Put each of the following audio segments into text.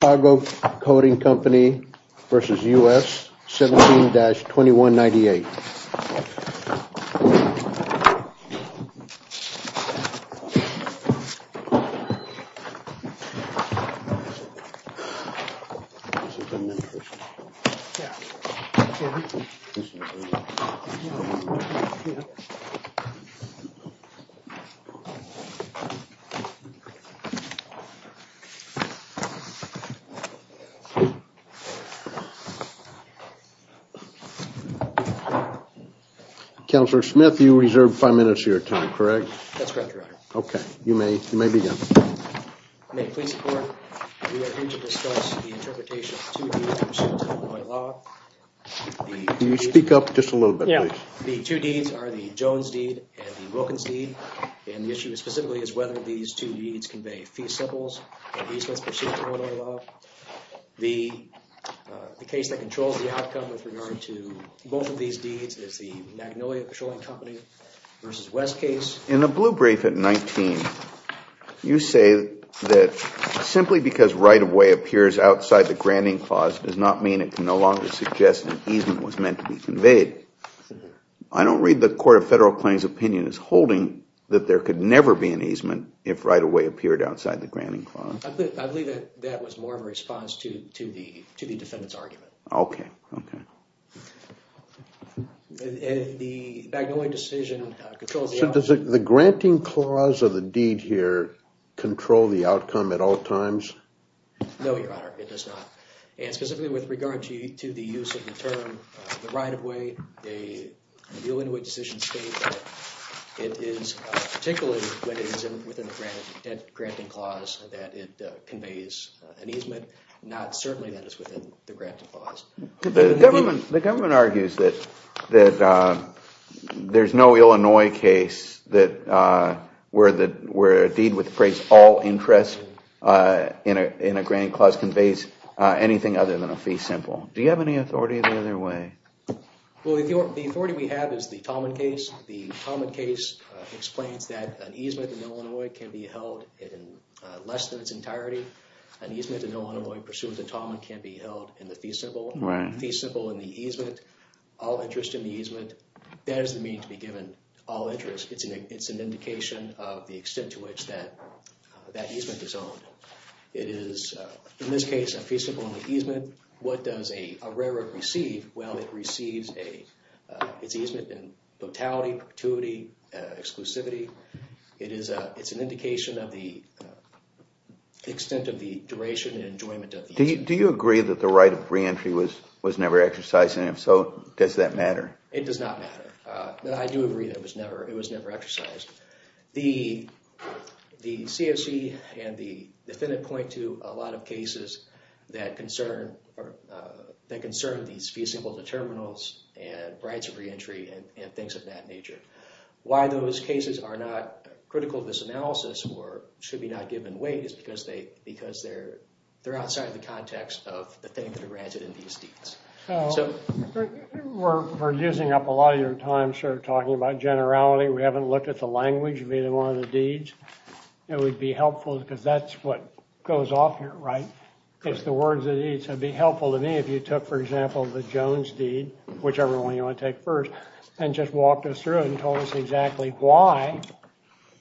Chicago Coating Company v. U.S. 17-2198. The two deeds are the Jones deed and the Wilkins deed, and the issue specifically is whether these two deeds convey feasibles or easements pursuant to Illinois law. The case that controls the outcome with regard to both of these deeds is the Magnolia Petroleum Company v. West case. In the blue brief at 19, you say that simply because right-of-way appears outside the granting clause does not mean it can no longer suggest an easement was meant to be conveyed. I don't read the Court of Federal Claims' opinion as holding that there could never be an easement if right-of-way appeared outside the granting clause. I believe that that was more of a response to the defendant's argument. Okay. Okay. The Magnolia decision controls the outcome. So does the granting clause of the deed here control the outcome at all times? No, Your Honor, it does not. And specifically with regard to the use of the term the right-of-way, the Illinois decision states that it is particularly when it is within the granting clause that it conveys an easement, not certainly that it's within the granting clause. The government argues that there's no Illinois case that where a deed with appraised all interest in a granting clause conveys anything other than a fee simple. Do you have any authority in either way? Well, the authority we have is the Tallman case. The Tallman case explains that an easement in Illinois can be held in less than its entirety. An easement in Illinois pursuant to Tallman can be held in the fee simple. Right. Fee simple and the easement, all interest in the easement, that doesn't mean to be given all interest. It's an indication of the extent to which that easement is owned. It is, in this case, a fee simple and an easement. What does a railroad receive? Well, it receives a, it's easement in totality, perpetuity, exclusivity. It is a, it's an indication of the extent of the duration and enjoyment of the easement. Do you agree that the right of re-entry was never exercised and if so, does that matter? It does not matter. I do agree that it was never, it was never exercised. The CSE and the defendant point to a lot of cases that concern, that concern these fee simple determinants and rights of re-entry and things of that nature. Why those cases are not critical to this analysis or should be not given away is because they, because they're outside the context of the things that are granted in these deeds. So. We're using up a lot of your time, sir, talking about generality. We haven't looked at the language of either one of the deeds. It would be helpful because that's what goes off here, right? It's the words that need to be helpful to me if you took, for example, the Jones deed, whichever one you want to take first, and just walked us through it and told us exactly why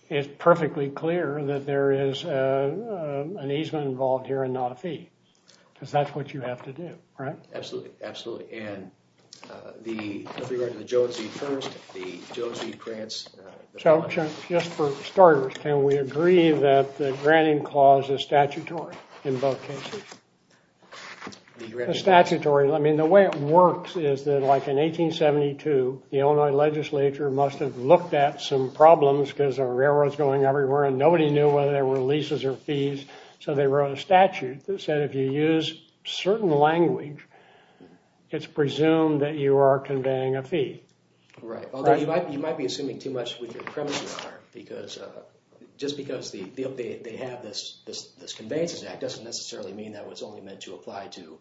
it's perfectly clear that there is an easement involved here and not a fee. Because that's what you have to do, right? Absolutely, absolutely. And the, with regard to the Jones deed first, the Jones deed grants. So just for starters, can we agree that the granting clause is statutory in both cases? The statutory, I mean, the way it works is that like in 1872, the Illinois legislature must have looked at some problems because there were railroads going everywhere and nobody knew whether there were leases or fees. So they wrote a statute that said if you use certain language, it's presumed that you are conveying a fee. Right. Although you might be assuming too much with your premises, sir, because, just because they have this conveyances act doesn't necessarily mean that it was only meant to apply to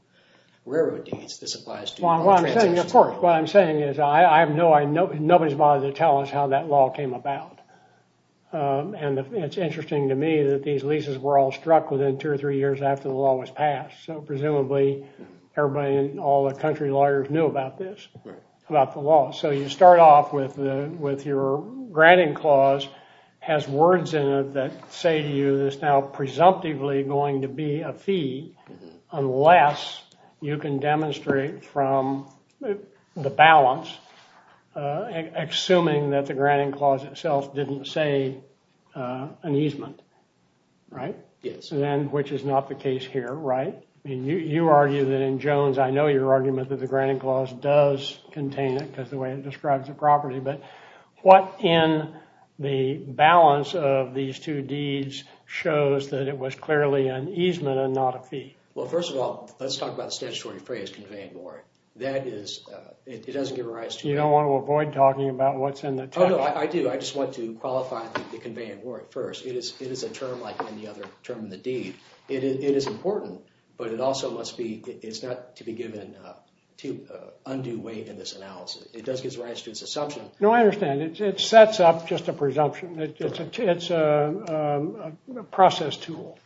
railroad This applies to all transactions. Well, I'm saying, of course, what I'm saying is I have no, nobody's bothered to tell us how that law came about. And it's interesting to me that these leases were all struck within two or three years after the law was passed. So presumably everybody in all the country lawyers knew about this, about the law. So you start off with the, with your granting clause has words in it that say to you, that's now presumptively going to be a fee unless you can demonstrate from the balance, assuming that the granting clause itself didn't say an easement, right? Yes. Then, which is not the case here, right? You argue that in Jones, I know your argument that the granting clause does contain it because the way it describes the property, but what in the balance of these two deeds shows that it was clearly an easement and not a fee? Well, first of all, let's talk about the statutory phrase conveyed more. That is, it doesn't give a rise to... You don't want to avoid talking about what's in the term. Oh, no, I do. I just want to qualify the conveying word first. It is a term like any other term in the deed. It is important, but it also must be, it's not to be given to undue weight in this analysis. It does give rise to its assumption. No, I understand. It sets up just a presumption. It's a process tool.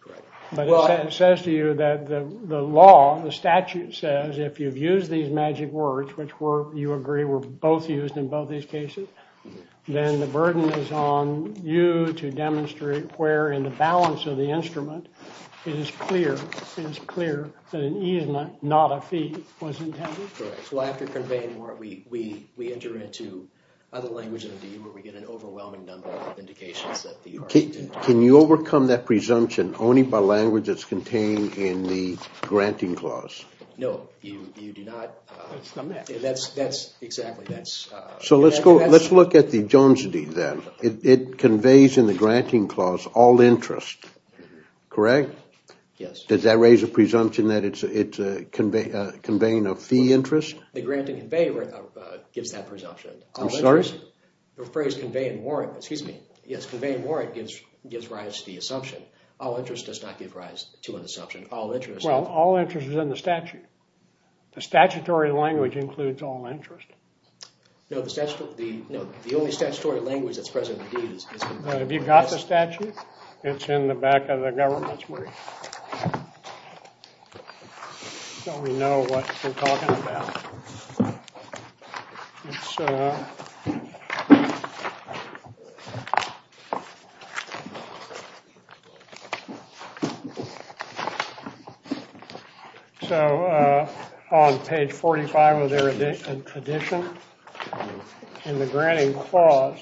Correct. But it says to you that the law, the statute says, if you've used these magic words, which you agree were both used in both these cases, then the burden is on you to demonstrate where in the balance of the instrument, it is clear, it is clear that an easement, not a fee, was intended. Correct. Well, after conveying the word, we enter into other languages of the deed where we get an overwhelming number of indications that the... Can you overcome that presumption only by language that's contained in the granting clause? No. You do not... That's, that's exactly, that's... So let's go, let's look at the Jones Deed then. It conveys in the granting clause all interest. Correct? Yes. Does that raise a presumption that it's conveying a fee interest? The granting convey gives that presumption. I'm sorry? The phrase convey and warrant, excuse me, yes, convey and warrant gives rise to the assumption. All interest does not give rise to an assumption. All interest... Well, all interest is in the statute. The statutory language includes all interest. No, the statute, the, no, the only statutory language that's present in the deed is... Have you got the statute? It's in the back of the government's work. So we know what they're talking about. It's... So, on page 45 of their edition, in the granting clause,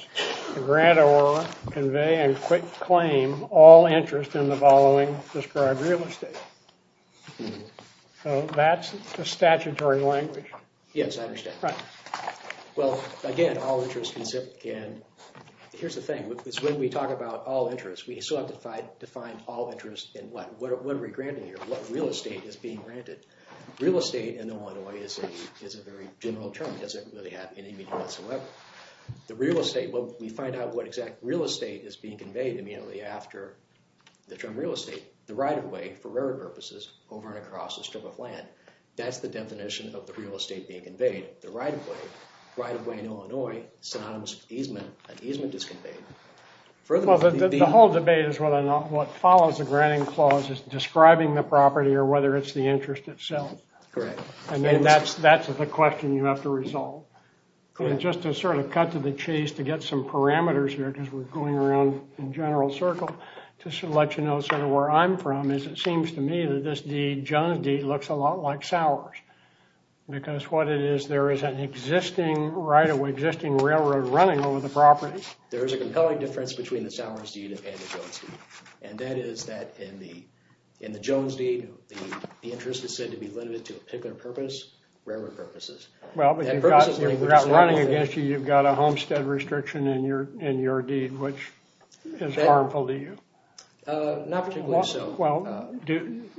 the grantor convey and claim all interest in the following described real estate. So that's the statutory language. Yes, I understand. Right. Well, again, all interest can... Here's the thing, is when we talk about all interest, we still have to define all interest in what? What are we granting here? What real estate is being granted? Real estate in Illinois is a very general term. It doesn't really have any meaning whatsoever. The real estate, well, we find out what exact real estate is being conveyed immediately after the term real estate. The right-of-way, for rarer purposes, over and across a strip of land. That's the definition of the real estate being conveyed. The right-of-way, right-of-way in Illinois, synonymous with easement, and easement is conveyed. Well, the whole debate is whether or not what follows the granting clause is describing the property or whether it's the interest itself. Correct. And then that's the question you have to resolve. Just to sort of cut to the chase to get some parameters here, because we're going around in general circle, just to let you know sort of where I'm from, is it seems to me that Jones deed looks a lot like Sowers, because what it is, there is an existing right-of-way, existing railroad running over the property. There is a compelling difference between the Sowers deed and the Jones deed, and that is that in the Jones deed, the interest is said to be limited to a particular purpose, rarer purposes. Well, but you've got running against you, you've got a homestead restriction in your deed, which is harmful to you. Not particularly so. Well,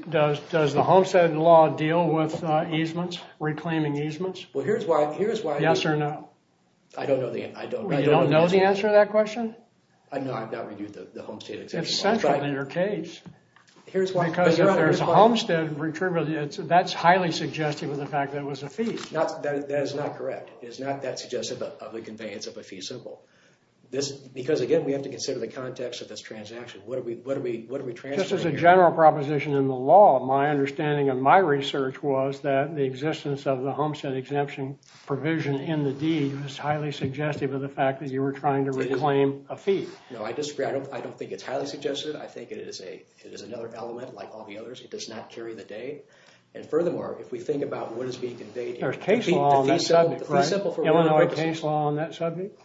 does the homestead law deal with easements, reclaiming easements? Yes or no? I don't know the answer. You don't know the answer to that question? No, I've not reviewed the homestead exemption law. It's central to your case. Because if there's a homestead, that's highly suggestive of the fact that it was a fee. That is not correct. It is not that suggestive of the conveyance of a fee simple. Because, again, we have to consider the context of this transaction. Just as a general proposition in the law, my understanding of my research was that the existence of the homestead exemption provision in the deed was highly suggestive of the fact that you were trying to reclaim a fee. No, I disagree. I don't think it's highly suggestive. I think it is another element, like all the others. It does not carry the day. And furthermore, if we think about what is being conveyed... There's case law on that subject, right? Illinois case law on that subject?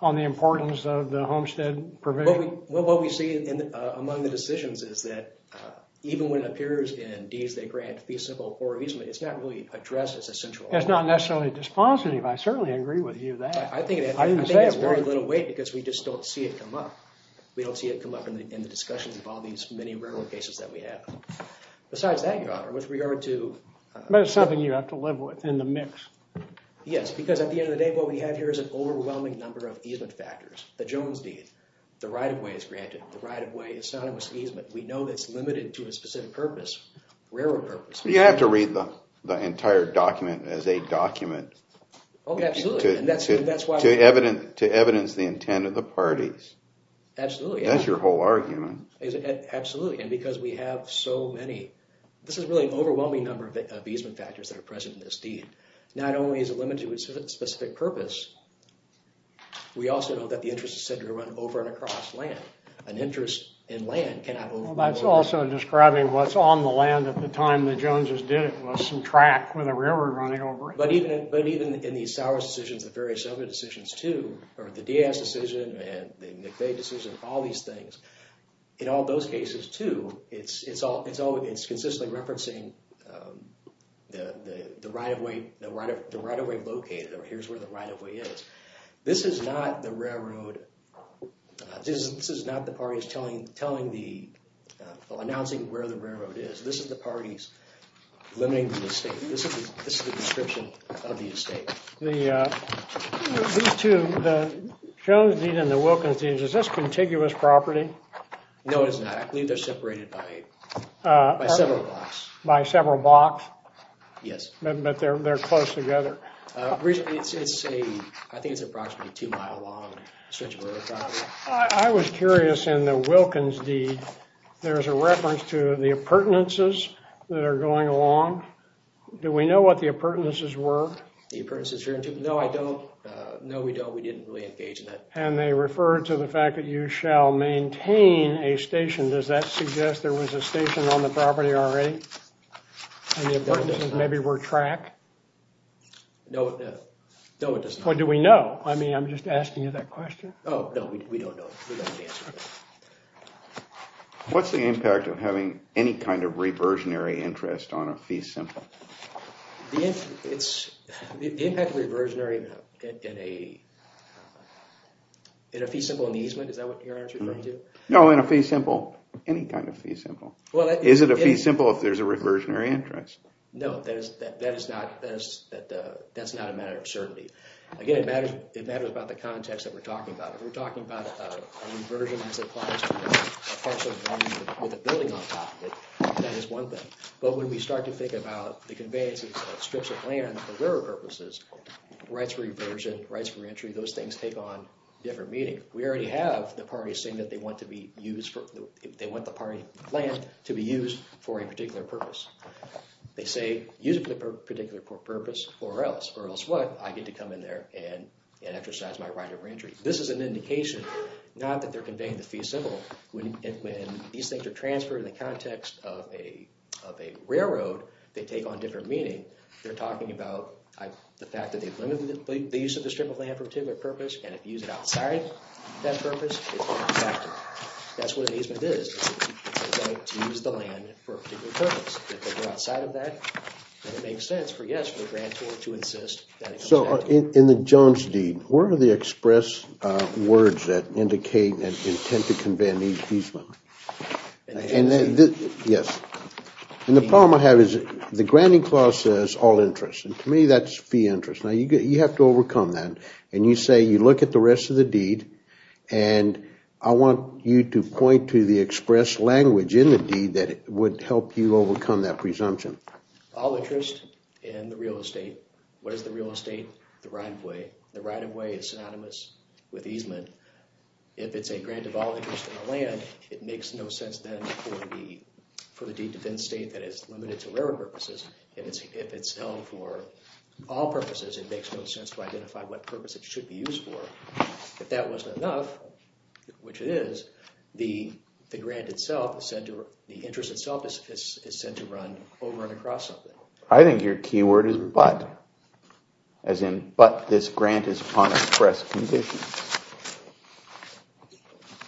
On the importance of the homestead provision? Well, what we see among the decisions is that even when it appears in deeds that grant fee simple or easement, it's not really addressed as a central element. It's not necessarily dispositive. I certainly agree with you there. I think it's very little weight because we just don't see it come up. We don't see it come up in the discussions of all these many regular cases that we have. Besides that, Your Honor, with regard to... But it's something you have to live with in the mix. Yes, because at the end of the day, what we have here is an overwhelming number of easement factors. The Jones deed. The right-of-way is granted. The right-of-way is not an easement. We know it's limited to a specific purpose. Rarer purpose. You have to read the entire document as a document. Oh, absolutely. And that's why... To evidence the intent of the parties. Absolutely. That's your whole argument. Absolutely. And because we have so many... This is really an overwhelming number of easement factors that are present in this deed. Not only is it limited to a specific purpose, we also know that the interest is said to run over and across land. An interest in land cannot... That's also describing what's on the land at the time the Joneses did it, was some track with a river running over it. But even in the Sowers decisions, the various other decisions, too, or the Diaz decision and the McVeigh decision, all these things, in all those cases, too, it's consistently referencing the right-of-way located, or here's where the right-of-way is. This is not the railroad... This is not the parties announcing where the railroad is. This is the parties limiting the estate. This is the description of the estate. These two, the Jones deed and the Wilkins deed, is this contiguous property? No, it is not. I believe they're separated by several blocks. By several blocks? Yes. But they're close together. It's a... I think it's approximately a two-mile-long stretch of railroad property. I was curious, in the Wilkins deed, there's a reference to the appurtenances that are going along. Do we know what the appurtenances were? The appurtenances... No, I don't. No, we don't. We didn't really engage in that. And they refer to the fact that you shall maintain a station. Does that suggest there was a station on the property already? And the appurtenances maybe were track? No, no. No, it does not. What do we know? I mean, I'm just asking you that question. Oh, no, we don't know. We don't have the answer to that. What's the impact of having any kind of reversionary interest on a fee simple? The impact of reversionary in a fee simple in the easement, is that what you're referring to? No, in a fee simple. Any kind of fee simple. Is it a fee simple if there's a reversionary interest? No, that is not a matter of certainty. Again, it matters about the context that we're talking about. If we're talking about a reversion as it applies to a parcel of land with a building on top of it, that is one thing. But when we start to think about the conveyance of strips of land for river purposes, rights for reversion, rights for entry, those things take on different meaning. We already have the parties saying that they want the land to be used for a particular purpose. They say, use it for a particular purpose or else. Or else what? I get to come in there and exercise my right of entry. This is an indication not that they're conveying the fee simple. When these things are transferred in the context of a railroad, they take on different meaning. They're talking about the fact that they've limited the use of the strip of land for a particular purpose, and if you use it outside that purpose, it's not effective. That's what an easement is. They're going to use the land for a particular purpose. If they go outside of that, then it makes sense for, yes, for the grantor to insist that he comes back. In the Jones deed, where are the express words that indicate an intent to convey an easement? In the Jones deed? Yes. The problem I have is the granting clause says all interest. To me, that's fee interest. Now, you have to overcome that, and you say you look at the rest of the deed, and I want you to point to the express language in the deed that would help you overcome that presumption. All interest in the real estate. What is the real estate? The right-of-way. The right-of-way is synonymous with easement. If it's a grant of all interest in the land, it makes no sense then for the deed to then state that it's limited to railroad purposes. If it's held for all purposes, it makes no sense to identify what purpose it should be used for. If that wasn't enough, which it is, the grant itself, the interest itself is said to run over and across something. I think your key word is but. As in, but this grant is upon express conditions.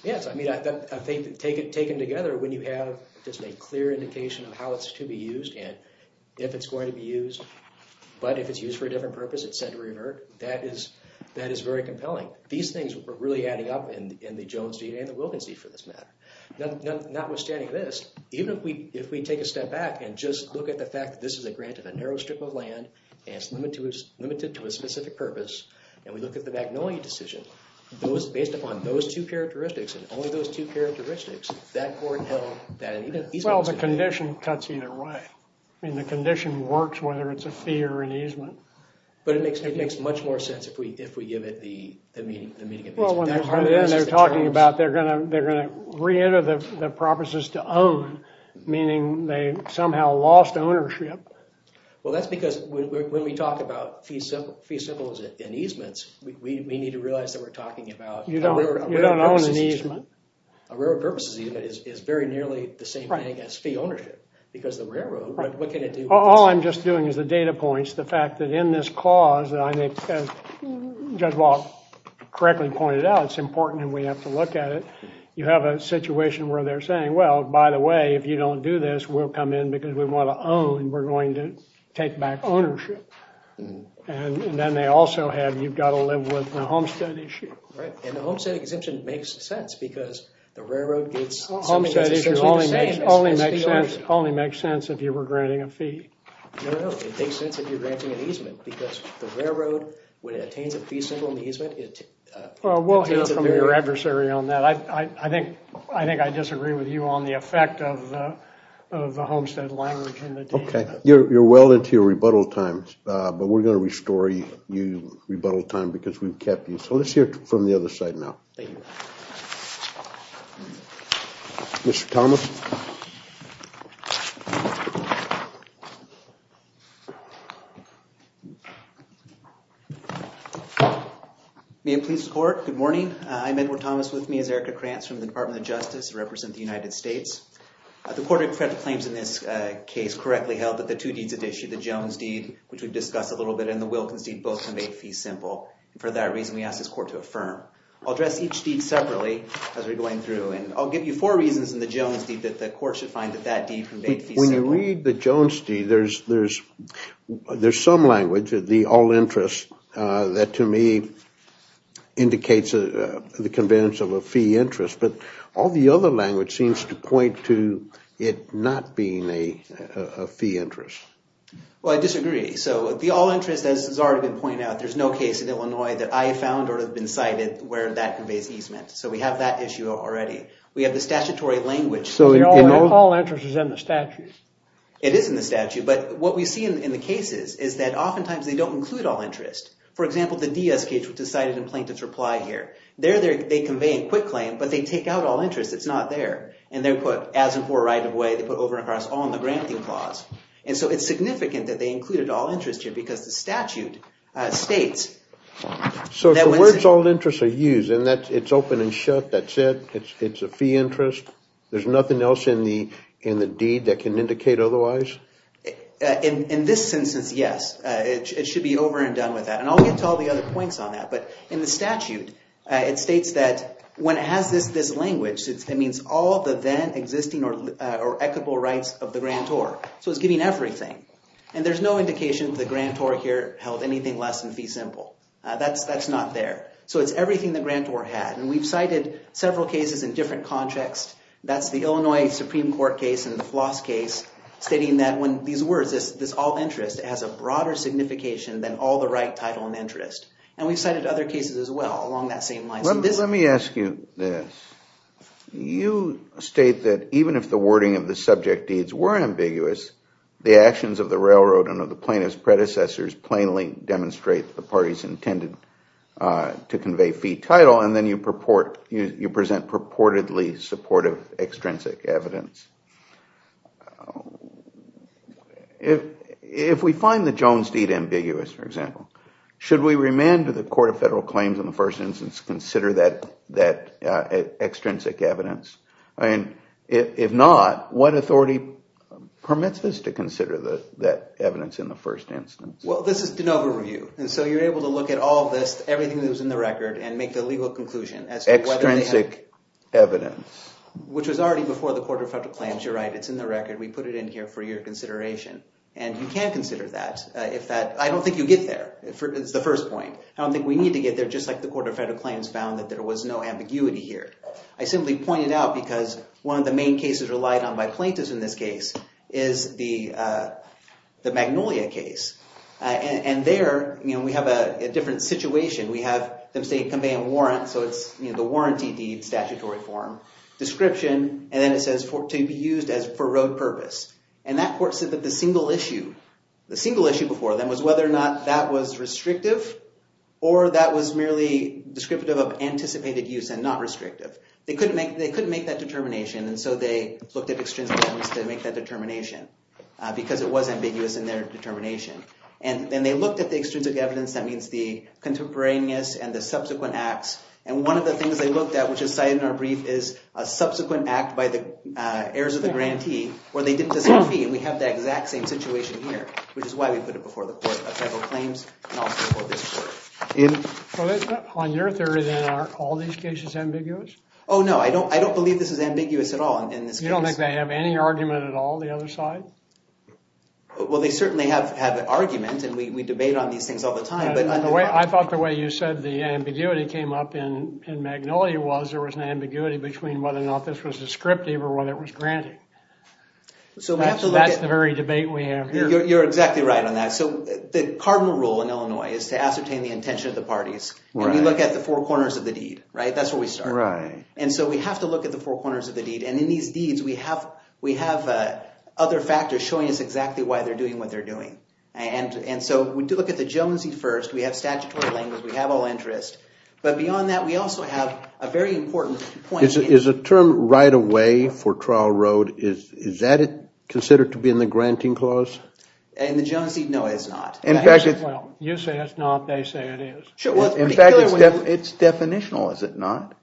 Yes. I mean, I think taken together, when you have just a clear indication of how it's to be used and if it's going to be used, but if it's used for a different purpose, it's said to revert, that is very compelling. These things are really adding up in the Jones deed and the Wilkins deed, for this matter. Notwithstanding this, even if we take a step back and just look at the fact that this is a grant of a narrow strip of land and it's limited to a specific purpose, and we look at the Magnolia decision, based upon those two characteristics and only those two characteristics, that court held that an easement… Well, the condition cuts either way. I mean, the condition works whether it's a fee or an easement. But it makes much more sense if we give it the meaning of easement. Well, when they're talking about they're going to reenter the properties to own, meaning they somehow lost ownership. Well, that's because when we talk about fees and easements, we need to realize that we're talking about… You don't own an easement. A railroad purposes easement is very nearly the same thing as fee ownership because the railroad, what can it do? All I'm just doing is the data points, the fact that in this cause, and I think Judge Wall correctly pointed out, it's important and we have to look at it. You have a situation where they're saying, well, by the way, if you don't do this, we'll come in because we want to own. We're going to take back ownership. And then they also have, you've got to live with the homestead issue. Right, and the homestead exemption makes sense because the railroad gets… Homestead only makes sense if you were granting a fee. No, no, it makes sense if you're granting an easement because the railroad, when it attains a fee symbol in the easement… Well, we'll hear from your adversary on that. I think I disagree with you on the effect of the homestead language in the deed. Okay, you're well into your rebuttal time, but we're going to restore you rebuttal time because we've kept you. So let's hear from the other side now. Thank you. Mr. Thomas. May it please the court, good morning. I'm Edward Thomas. With me is Erica Krantz from the Department of Justice. I represent the United States. The court of federal claims in this case correctly held that the two deeds at issue, the Jones deed, which we've discussed a little bit, and the Wilkins deed both conveyed fee symbol. For that reason, we ask this court to affirm. I'll address each deed separately as we're going through, and I'll give you four reasons in the Jones deed that the court should find that that deed conveyed fee symbol. When you read the Jones deed, there's some language, the all interest, that to me indicates the conveyance of a fee interest, but all the other language seems to point to it not being a fee interest. Well, I disagree. So the all interest, as has already been pointed out, there's no case in Illinois that I have found or have been cited where that conveys easement. So we have that issue already. We have the statutory language. All interest is in the statute. It is in the statute, but what we see in the cases is that oftentimes they don't include all interest. For example, the Diaz case, which is cited in Plaintiff's Reply here. There they convey a quick claim, but they take out all interest. It's not there, and they're put as and for right of way. They put over and across on the granting clause. And so it's significant that they included all interest here because the statute states. So if the words all interest are used and it's open and shut, that's it? It's a fee interest? There's nothing else in the deed that can indicate otherwise? In this instance, yes. It should be over and done with that. And I'll get to all the other points on that, but in the statute, it states that when it has this language, it means all the then existing or equitable rights of the grantor. So it's giving everything. And there's no indication that the grantor here held anything less than fee simple. That's not there. So it's everything the grantor had, and we've cited several cases in different contexts. That's the Illinois Supreme Court case and the Floss case stating that when these words, this all interest has a broader signification than all the right, title, and interest. And we've cited other cases as well along that same line. Let me ask you this. You state that even if the wording of the subject deeds were ambiguous, the actions of the railroad and of the plaintiff's predecessors plainly demonstrate the parties intended to convey fee title, and then you present purportedly supportive extrinsic evidence. If we find the Jones deed ambiguous, for example, should we remand to the Court of Federal Claims in the first instance to consider that extrinsic evidence? If not, what authority permits us to consider that evidence in the first instance? Well, this is de novo review. And so you're able to look at all this, everything that was in the record, and make the legal conclusion as to whether they have… Extrinsic evidence. Which was already before the Court of Federal Claims. You're right. It's in the record. We put it in here for your consideration. And you can consider that. I don't think you get there. It's the first point. I don't think we need to get there, just like the Court of Federal Claims found that there was no ambiguity here. I simply point it out because one of the main cases relied on by plaintiffs in this case is the Magnolia case. And there, we have a different situation. We have them say convey a warrant, so it's the warranty deed, statutory form, description, and then it says to be used for road purpose. And that court said that the single issue before them was whether or not that was restrictive or that was merely descriptive of anticipated use and not restrictive. They couldn't make that determination, and so they looked at extrinsic evidence to make that determination because it was ambiguous in their determination. And then they looked at the extrinsic evidence, that means the contemporaneous and the subsequent acts, and one of the things they looked at, which is cited in our brief, is a subsequent act by the heirs of the grantee where they didn't deserve a fee. And we have that exact same situation here, which is why we put it before the Court of Federal Claims and also before this court. On your theory, then, are all these cases ambiguous? Oh, no, I don't believe this is ambiguous at all in this case. You don't think they have any argument at all, the other side? Well, they certainly have argument, and we debate on these things all the time. I thought the way you said the ambiguity came up in Magnolia was there was an ambiguity between whether or not this was descriptive or whether it was granted. So that's the very debate we have here. You're exactly right on that. So the cardinal rule in Illinois is to ascertain the intention of the parties, and we look at the four corners of the deed, right? That's where we start. Right. And so we have to look at the four corners of the deed, and in these deeds we have other factors showing us exactly why they're doing what they're doing. And so we do look at the Jonesy first. We have statutory language. We have all interest. But beyond that, we also have a very important point. Is a term right of way for trial road, is that considered to be in the granting clause? In the Jonesy, no, it's not. Well, you say it's not, they say it is. In fact, it's definitional, is it not?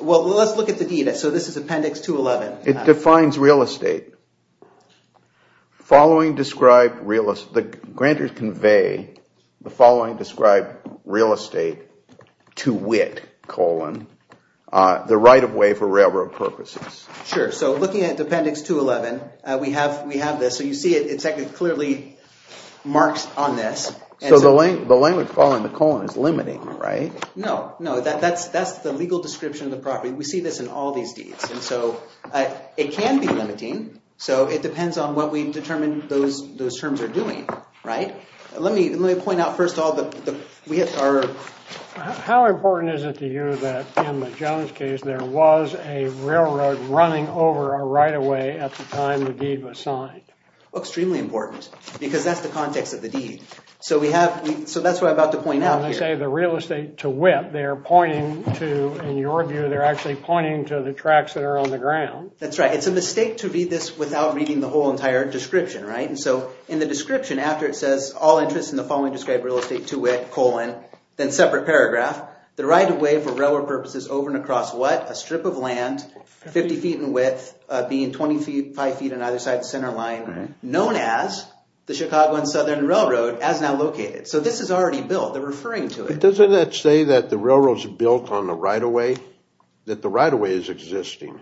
Well, let's look at the deed. So this is Appendix 211. It defines real estate. Following described real estate, the grantors convey the following described real estate to wit, colon, the right of way for railroad purposes. Sure. So looking at Appendix 211, we have this. So you see it clearly marks on this. So the language following the colon is limiting, right? No, no. That's the legal description of the property. We see this in all these deeds. And so it can be limiting. So it depends on what we determine those terms are doing, right? Let me point out first of all that we have our... How important is it to you that in the Jones case, there was a railroad running over a right of way at the time the deed was signed? Extremely important, because that's the context of the deed. So that's what I'm about to point out here. When they say the real estate to wit, they're pointing to, in your view, they're actually pointing to the tracks that are on the ground. That's right. It's a mistake to read this without reading the whole entire description, right? And so in the description, after it says, all interest in the following described real estate to wit, then separate paragraph, the right of way for railroad purposes over and across what? A strip of land, 50 feet in width, being 25 feet on either side of the center line, known as the Chicago and Southern Railroad as now located. So this is already built. They're referring to it. But doesn't that say that the railroad's built on the right of way, that the right of way is existing?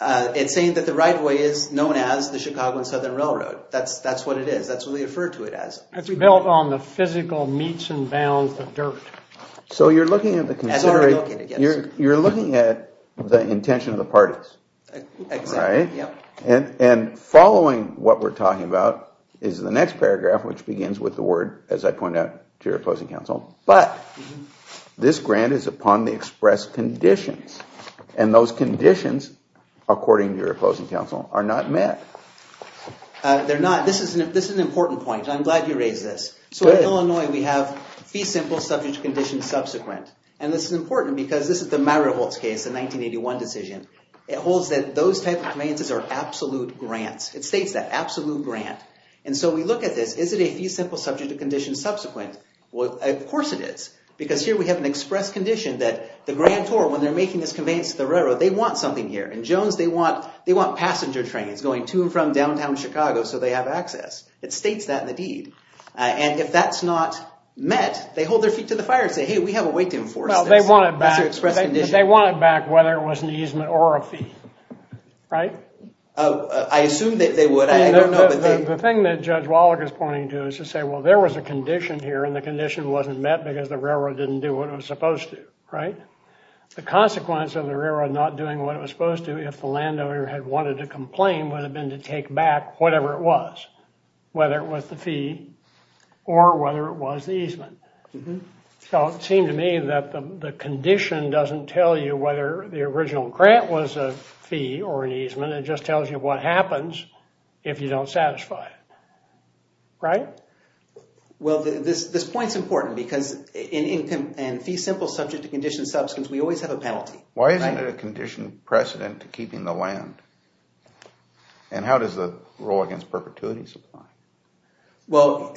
It's saying that the right of way is known as the Chicago and Southern Railroad. That's what it is. That's what they refer to it as. It's built on the physical meets and bounds of dirt. So you're looking at the intention of the parties, right? And following what we're talking about is the next paragraph, which begins with the word, as I pointed out to your opposing counsel, but this grant is upon the express conditions. And those conditions, according to your opposing counsel, are not met. They're not. This is an important point. I'm glad you raised this. So in Illinois, we have fee simple subject to condition subsequent. And this is important because this is the Mariholtz case, the 1981 decision. It holds that those type of conveyances are absolute grants. It states that, absolute grant. And so we look at this. Is it a fee simple subject to condition subsequent? Well, of course it is because here we have an express condition that the grantor, when they're making this conveyance to the railroad, they want something here. In Jones, they want passenger trains going to and from downtown Chicago so they have access. It states that in the deed. And if that's not met, they hold their feet to the fire and say, hey, we have a way to enforce this. Well, they want it back. That's their express condition. They want it back whether it was an easement or a fee, right? I assume that they would. I don't know. The thing that Judge Wallach is pointing to is to say, well, there was a condition here and the condition wasn't met because the railroad didn't do what it was supposed to, right? The consequence of the railroad not doing what it was supposed to, if the landowner had wanted to complain, would have been to take back whatever it was, whether it was the fee or whether it was the easement. So it seemed to me that the condition doesn't tell you whether the original grant was a fee or an easement. It just tells you what happens if you don't satisfy it, right? Well, this point's important because in fee simple subject to condition substance, we always have a penalty. Why isn't it a condition precedent to keeping the land? And how does it roll against perpetuity? Well,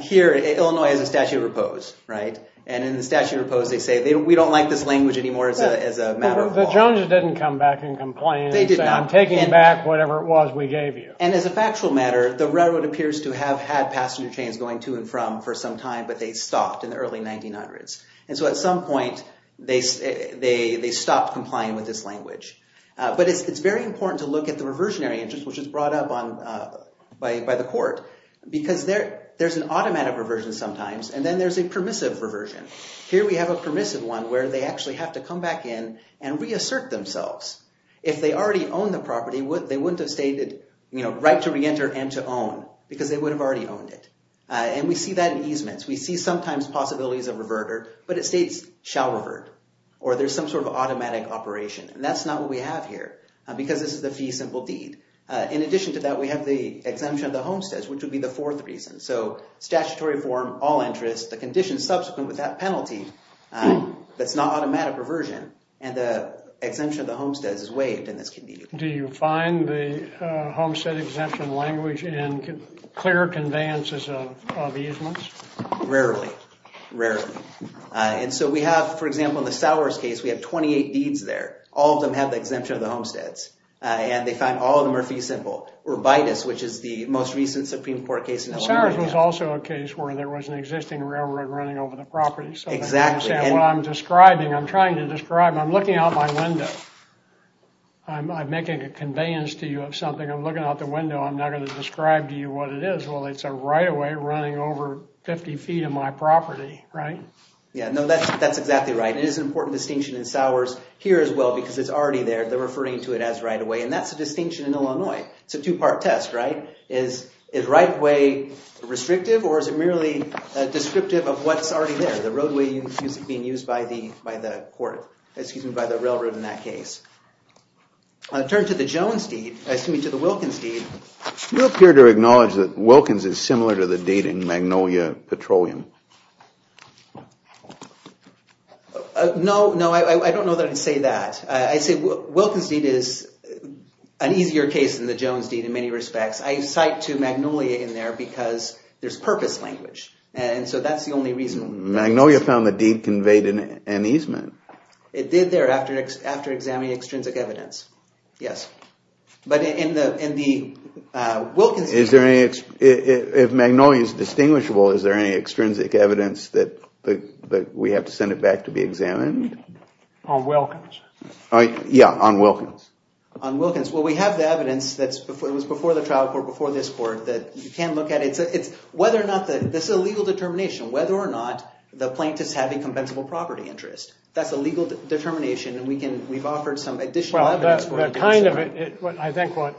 here, Illinois has a statute of repose, right? And in the statute of repose, they say, we don't like this language anymore as a matter of law. The Joneses didn't come back and complain and say, I'm taking back whatever it was we gave you. And as a factual matter, the railroad appears to have had passenger trains going to and from for some time, but they stopped in the early 1900s. And so at some point, they stopped complying with this language. But it's very important to look at the reversionary interest, which is brought up by the court, because there's an automatic reversion sometimes, and then there's a permissive reversion. Here we have a permissive one where they actually have to come back in and reassert themselves. If they already owned the property, they wouldn't have stated right to reenter and to own, because they would have already owned it. And we see that in easements. We see sometimes possibilities of revert, but it states shall revert, or there's some sort of automatic operation. And that's not what we have here, because this is the fee simple deed. In addition to that, we have the exemption of the homesteads, which would be the fourth reason. So statutory reform, all interests, the conditions subsequent with that penalty that's not automatic reversion, and the exemption of the homesteads is waived in this community. Do you find the homestead exemption language in clear conveyances of easements? Rarely. Rarely. And so we have, for example, in the Sowers case, we have 28 deeds there. All of them have the exemption of the homesteads, and they find all of them are fee simple. Urbitus, which is the most recent Supreme Court case in Illinois. Sowers was also a case where there was an existing railroad running over the property. Exactly. What I'm describing, I'm trying to describe, I'm looking out my window. I'm making a conveyance to you of something. I'm looking out the window. I'm not going to describe to you what it is. Well, it's a right-of-way running over 50 feet of my property, right? Yeah, no, that's exactly right. It is an important distinction in Sowers here as well, because it's already there. They're referring to it as right-of-way, and that's a distinction in Illinois. It's a two-part test, right? Is right-of-way restrictive, or is it merely descriptive of what's already there? The roadway being used by the court, excuse me, by the railroad in that case. I'll turn to the Jones deed, excuse me, to the Wilkins deed. You appear to acknowledge that Wilkins is similar to the deed in Magnolia Petroleum. No, no, I don't know that I'd say that. I'd say Wilkins deed is an easier case than the Jones deed in many respects. I cite to Magnolia in there because there's purpose language, and so that's the only reason. Magnolia found the deed conveyed an easement. It did there after examining extrinsic evidence, yes. But in the Wilkins deed- If Magnolia is distinguishable, is there any extrinsic evidence that we have to send it back to be examined? On Wilkins. Yeah, on Wilkins. On Wilkins. Well, we have the evidence that was before the trial court, before this court, that you can look at it. This is a legal determination, whether or not the plaintiff's having compensable property interest. That's a legal determination, and we've offered some additional evidence for it. I think what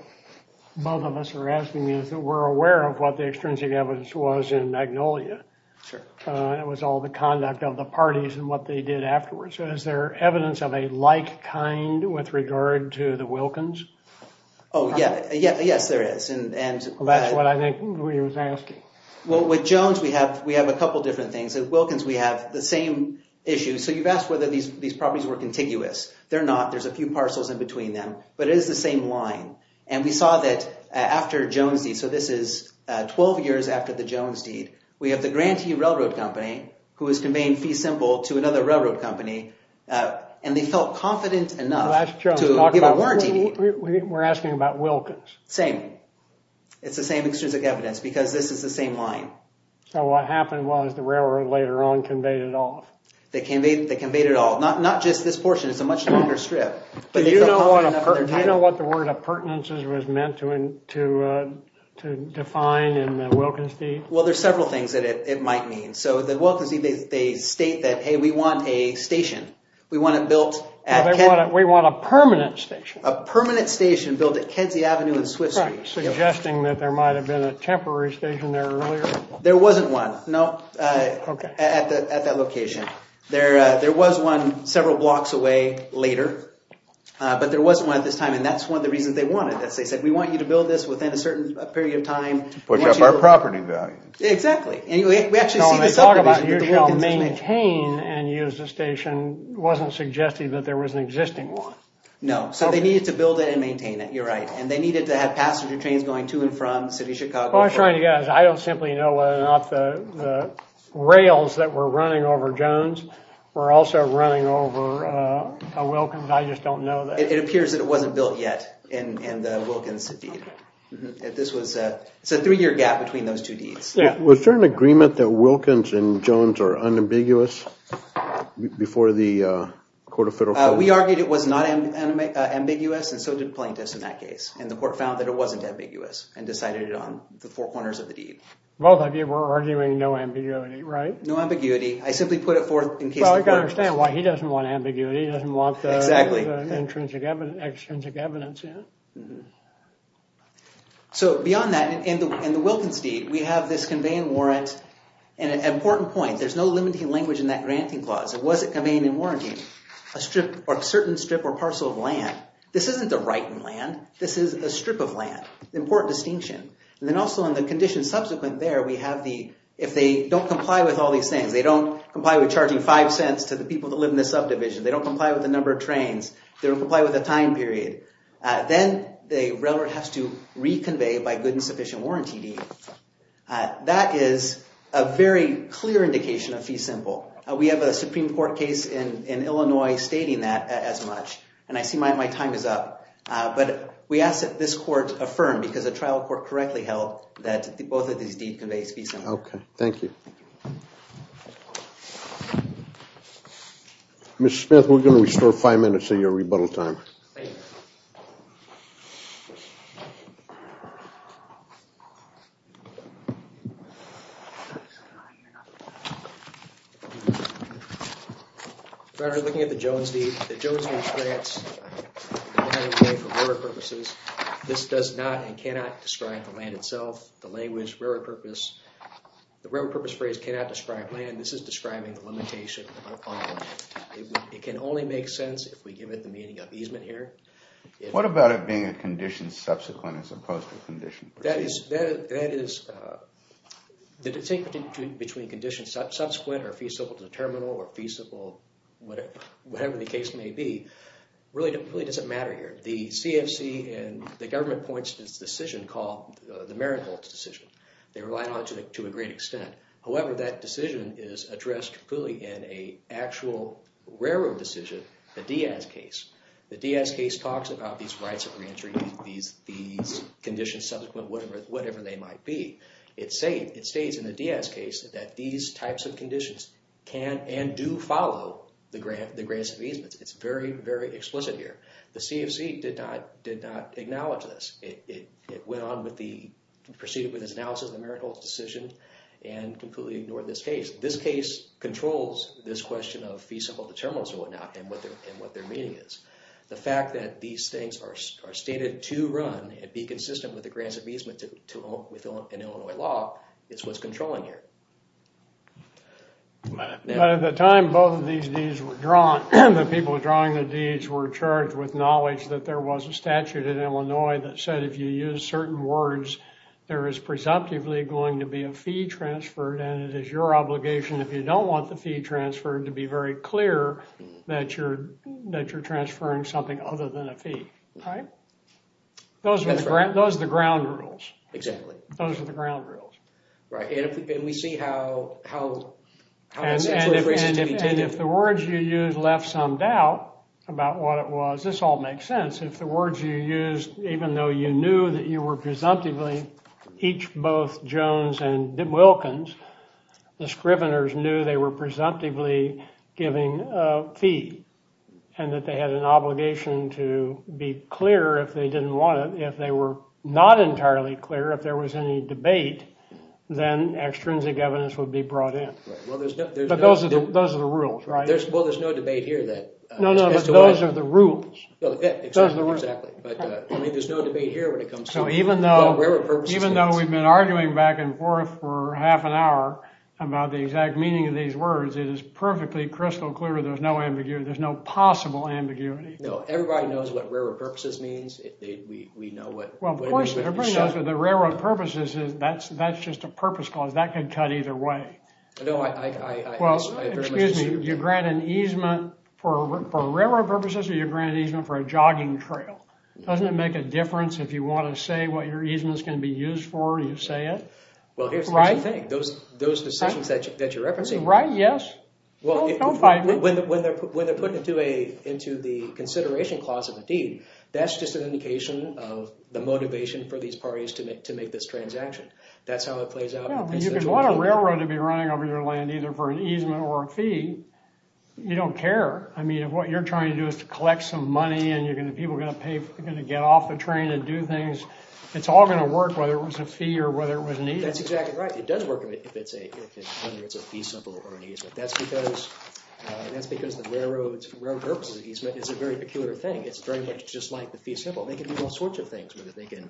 both of us are asking is that we're aware of what the extrinsic evidence was in Magnolia. It was all the conduct of the parties and what they did afterwards. Is there evidence of a like kind with regard to the Wilkins? Oh, yeah. Yes, there is. Well, that's what I think we were asking. Well, with Jones, we have a couple different things. With Wilkins, we have the same issue. So you've asked whether these properties were contiguous. They're not. There's a few parcels in between them, but it is the same line. And we saw that after Jones deed, so this is 12 years after the Jones deed, we have the Grantee Railroad Company, who has conveyed fee simple to another railroad company, and they felt confident enough to give a warranty deed. We're asking about Wilkins. Same. It's the same extrinsic evidence because this is the same line. So what happened was the railroad later on conveyed it all. They conveyed it all. Not just this portion. It's a much longer strip. Do you know what the word of pertinences was meant to define in the Wilkins deed? Well, there's several things that it might mean. So the Wilkins deed, they state that, hey, we want a station. We want it built. We want a permanent station. A permanent station built at Kedzie Avenue and Swift Street. Suggesting that there might have been a temporary station there earlier? There wasn't one, no, at that location. There was one several blocks away later, but there wasn't one at this time. And that's one of the reasons they wanted this. They said, we want you to build this within a certain period of time. To push up our property value. Exactly. We actually see this up to this point. No, when they talk about you shall maintain and use the station, it wasn't suggesting that there was an existing one. No. So they needed to build it and maintain it. You're right. And they needed to have passenger trains going to and from the city of Chicago. What I'm trying to get at is I don't simply know whether or not the rails that were running over Jones were also running over a Wilkins. I just don't know that. It appears that it wasn't built yet in the Wilkins deed. It's a three year gap between those two deeds. Was there an agreement that Wilkins and Jones are unambiguous before the court of federal court? We argued it was not ambiguous and so did plaintiffs in that case. And the court found that it wasn't ambiguous and decided it on the four corners of the deed. Both of you were arguing no ambiguity, right? No ambiguity. I simply put it forth in case the court... Well, I can understand why he doesn't want ambiguity. He doesn't want the extrinsic evidence in. So beyond that, in the Wilkins deed, we have this conveying warrant. And an important point, there's no limiting language in that granting clause. It wasn't conveying in warranty a certain strip or parcel of land. This isn't the right in land. This is a strip of land. Important distinction. And then also in the condition subsequent there, we have the... If they don't comply with all these things, they don't comply with charging five cents to the people that live in the subdivision. They don't comply with the number of trains. They don't comply with the time period. Then the railroad has to reconvey by good and sufficient warranty deed. That is a very clear indication of fee simple. We have a Supreme Court case in Illinois stating that as much. And I see my time is up. But we ask that this court affirm because the trial court correctly held that both of these deed conveys fee simple. Okay. Thank you. Mr. Smith, we're going to restore five minutes of your rebuttal time. Thank you. We're looking at the Jones deed. The Jones deed grants land for rarer purposes. This does not and cannot describe the land itself. The language, rarer purpose. The rarer purpose phrase cannot describe land. This is describing the limitation upon land. It can only make sense if we give it the meaning of easement here. What about it being a condition subsequent as opposed to a condition? That is, the distinction between conditions subsequent or fee simple to the terminal or fee simple, whatever the case may be, really doesn't matter here. The CFC and the government points to this decision called the Marinholtz decision. They rely on it to a great extent. However, that decision is addressed fully in an actual rarer decision, the Diaz case. The Diaz case talks about these rights of re-entry, these conditions subsequent, whatever they might be. It states in the Diaz case that these types of conditions can and do follow the grants of easements. It's very, very explicit here. The CFC did not acknowledge this. It went on with the, proceeded with its analysis of the Marinholtz decision and completely ignored this case. This case controls this question of fee simple to terminals and whatnot and what their meaning is. The fact that these things are stated to run and be consistent with the grants of easement within Illinois law is what's controlling here. At the time both of these deeds were drawn, the people drawing the deeds were charged with knowledge that there was a statute in Illinois that said, if you use certain words, there is presumptively going to be a fee transferred and it is your obligation, if you don't want the fee transferred, to be very clear that you're transferring something other than a fee. Those are the ground rules. Exactly. Those are the ground rules. Right. And we see how... And if the words you use left some doubt about what it was, this all makes sense. If the words you used, even though you knew that you were presumptively each, both Jones and Wilkins, the scriveners knew they were presumptively giving a fee and that they had an obligation to be clear if they didn't want it. If they were not entirely clear, if there was any debate, then extrinsic evidence would be brought in. Right. Well, there's no... But those are the rules, right? Well, there's no debate here that... No, no, but those are the rules. Exactly. But I mean, there's no debate here when it comes to... So even though we've been arguing back and forth for half an hour about the exact meaning of these words, it is perfectly crystal clear there's no ambiguity, there's no possible ambiguity. No, everybody knows what railroad purposes means. We know what... Well, of course everybody knows what the railroad purposes is. That's just a purpose clause. That could cut either way. No, I... Well, excuse me, you grant an easement for railroad purposes or you grant an easement for a jogging trail? Doesn't it make a difference if you want to say what your easement is going to be used for and you say it? Well, here's the thing. Those decisions that you're referencing... Right, yes. Don't fight me. When they're put into the consideration clause of the deed, that's just an indication of the motivation for these parties to make this transaction. That's how it plays out. Well, you could want a railroad to be running over your land either for an easement or a fee. You don't care. I mean, if what you're trying to do is to collect some money and the people are going to get off the train and do things, it's all going to work whether it was a fee or whether it was an easement. That's exactly right. It does work if it's a fee symbol or an easement. That's because the railroad purposes easement is a very peculiar thing. It's very much just like the fee symbol. They can do all sorts of things with it. They can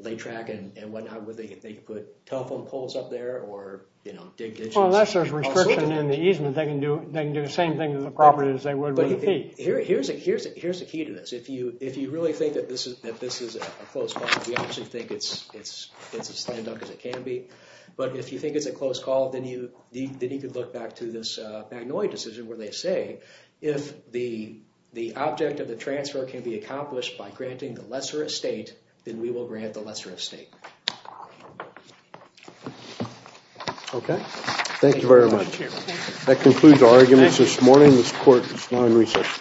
lay track and whatnot. They can put telephone poles up there or dig ditches. Unless there's restriction in the easement, they can do the same thing to the property as they would with a fee. Here's the key to this. If you really think that this is a close call, we actually think it's as slandered as it can be, but if you think it's a close call, then you could look back to this Magnolia decision where they say, if the object of the transfer can be accomplished by granting the lesser estate, then we will grant the lesser estate. Okay. Thank you very much. That concludes our arguments this morning. This court is now in recess.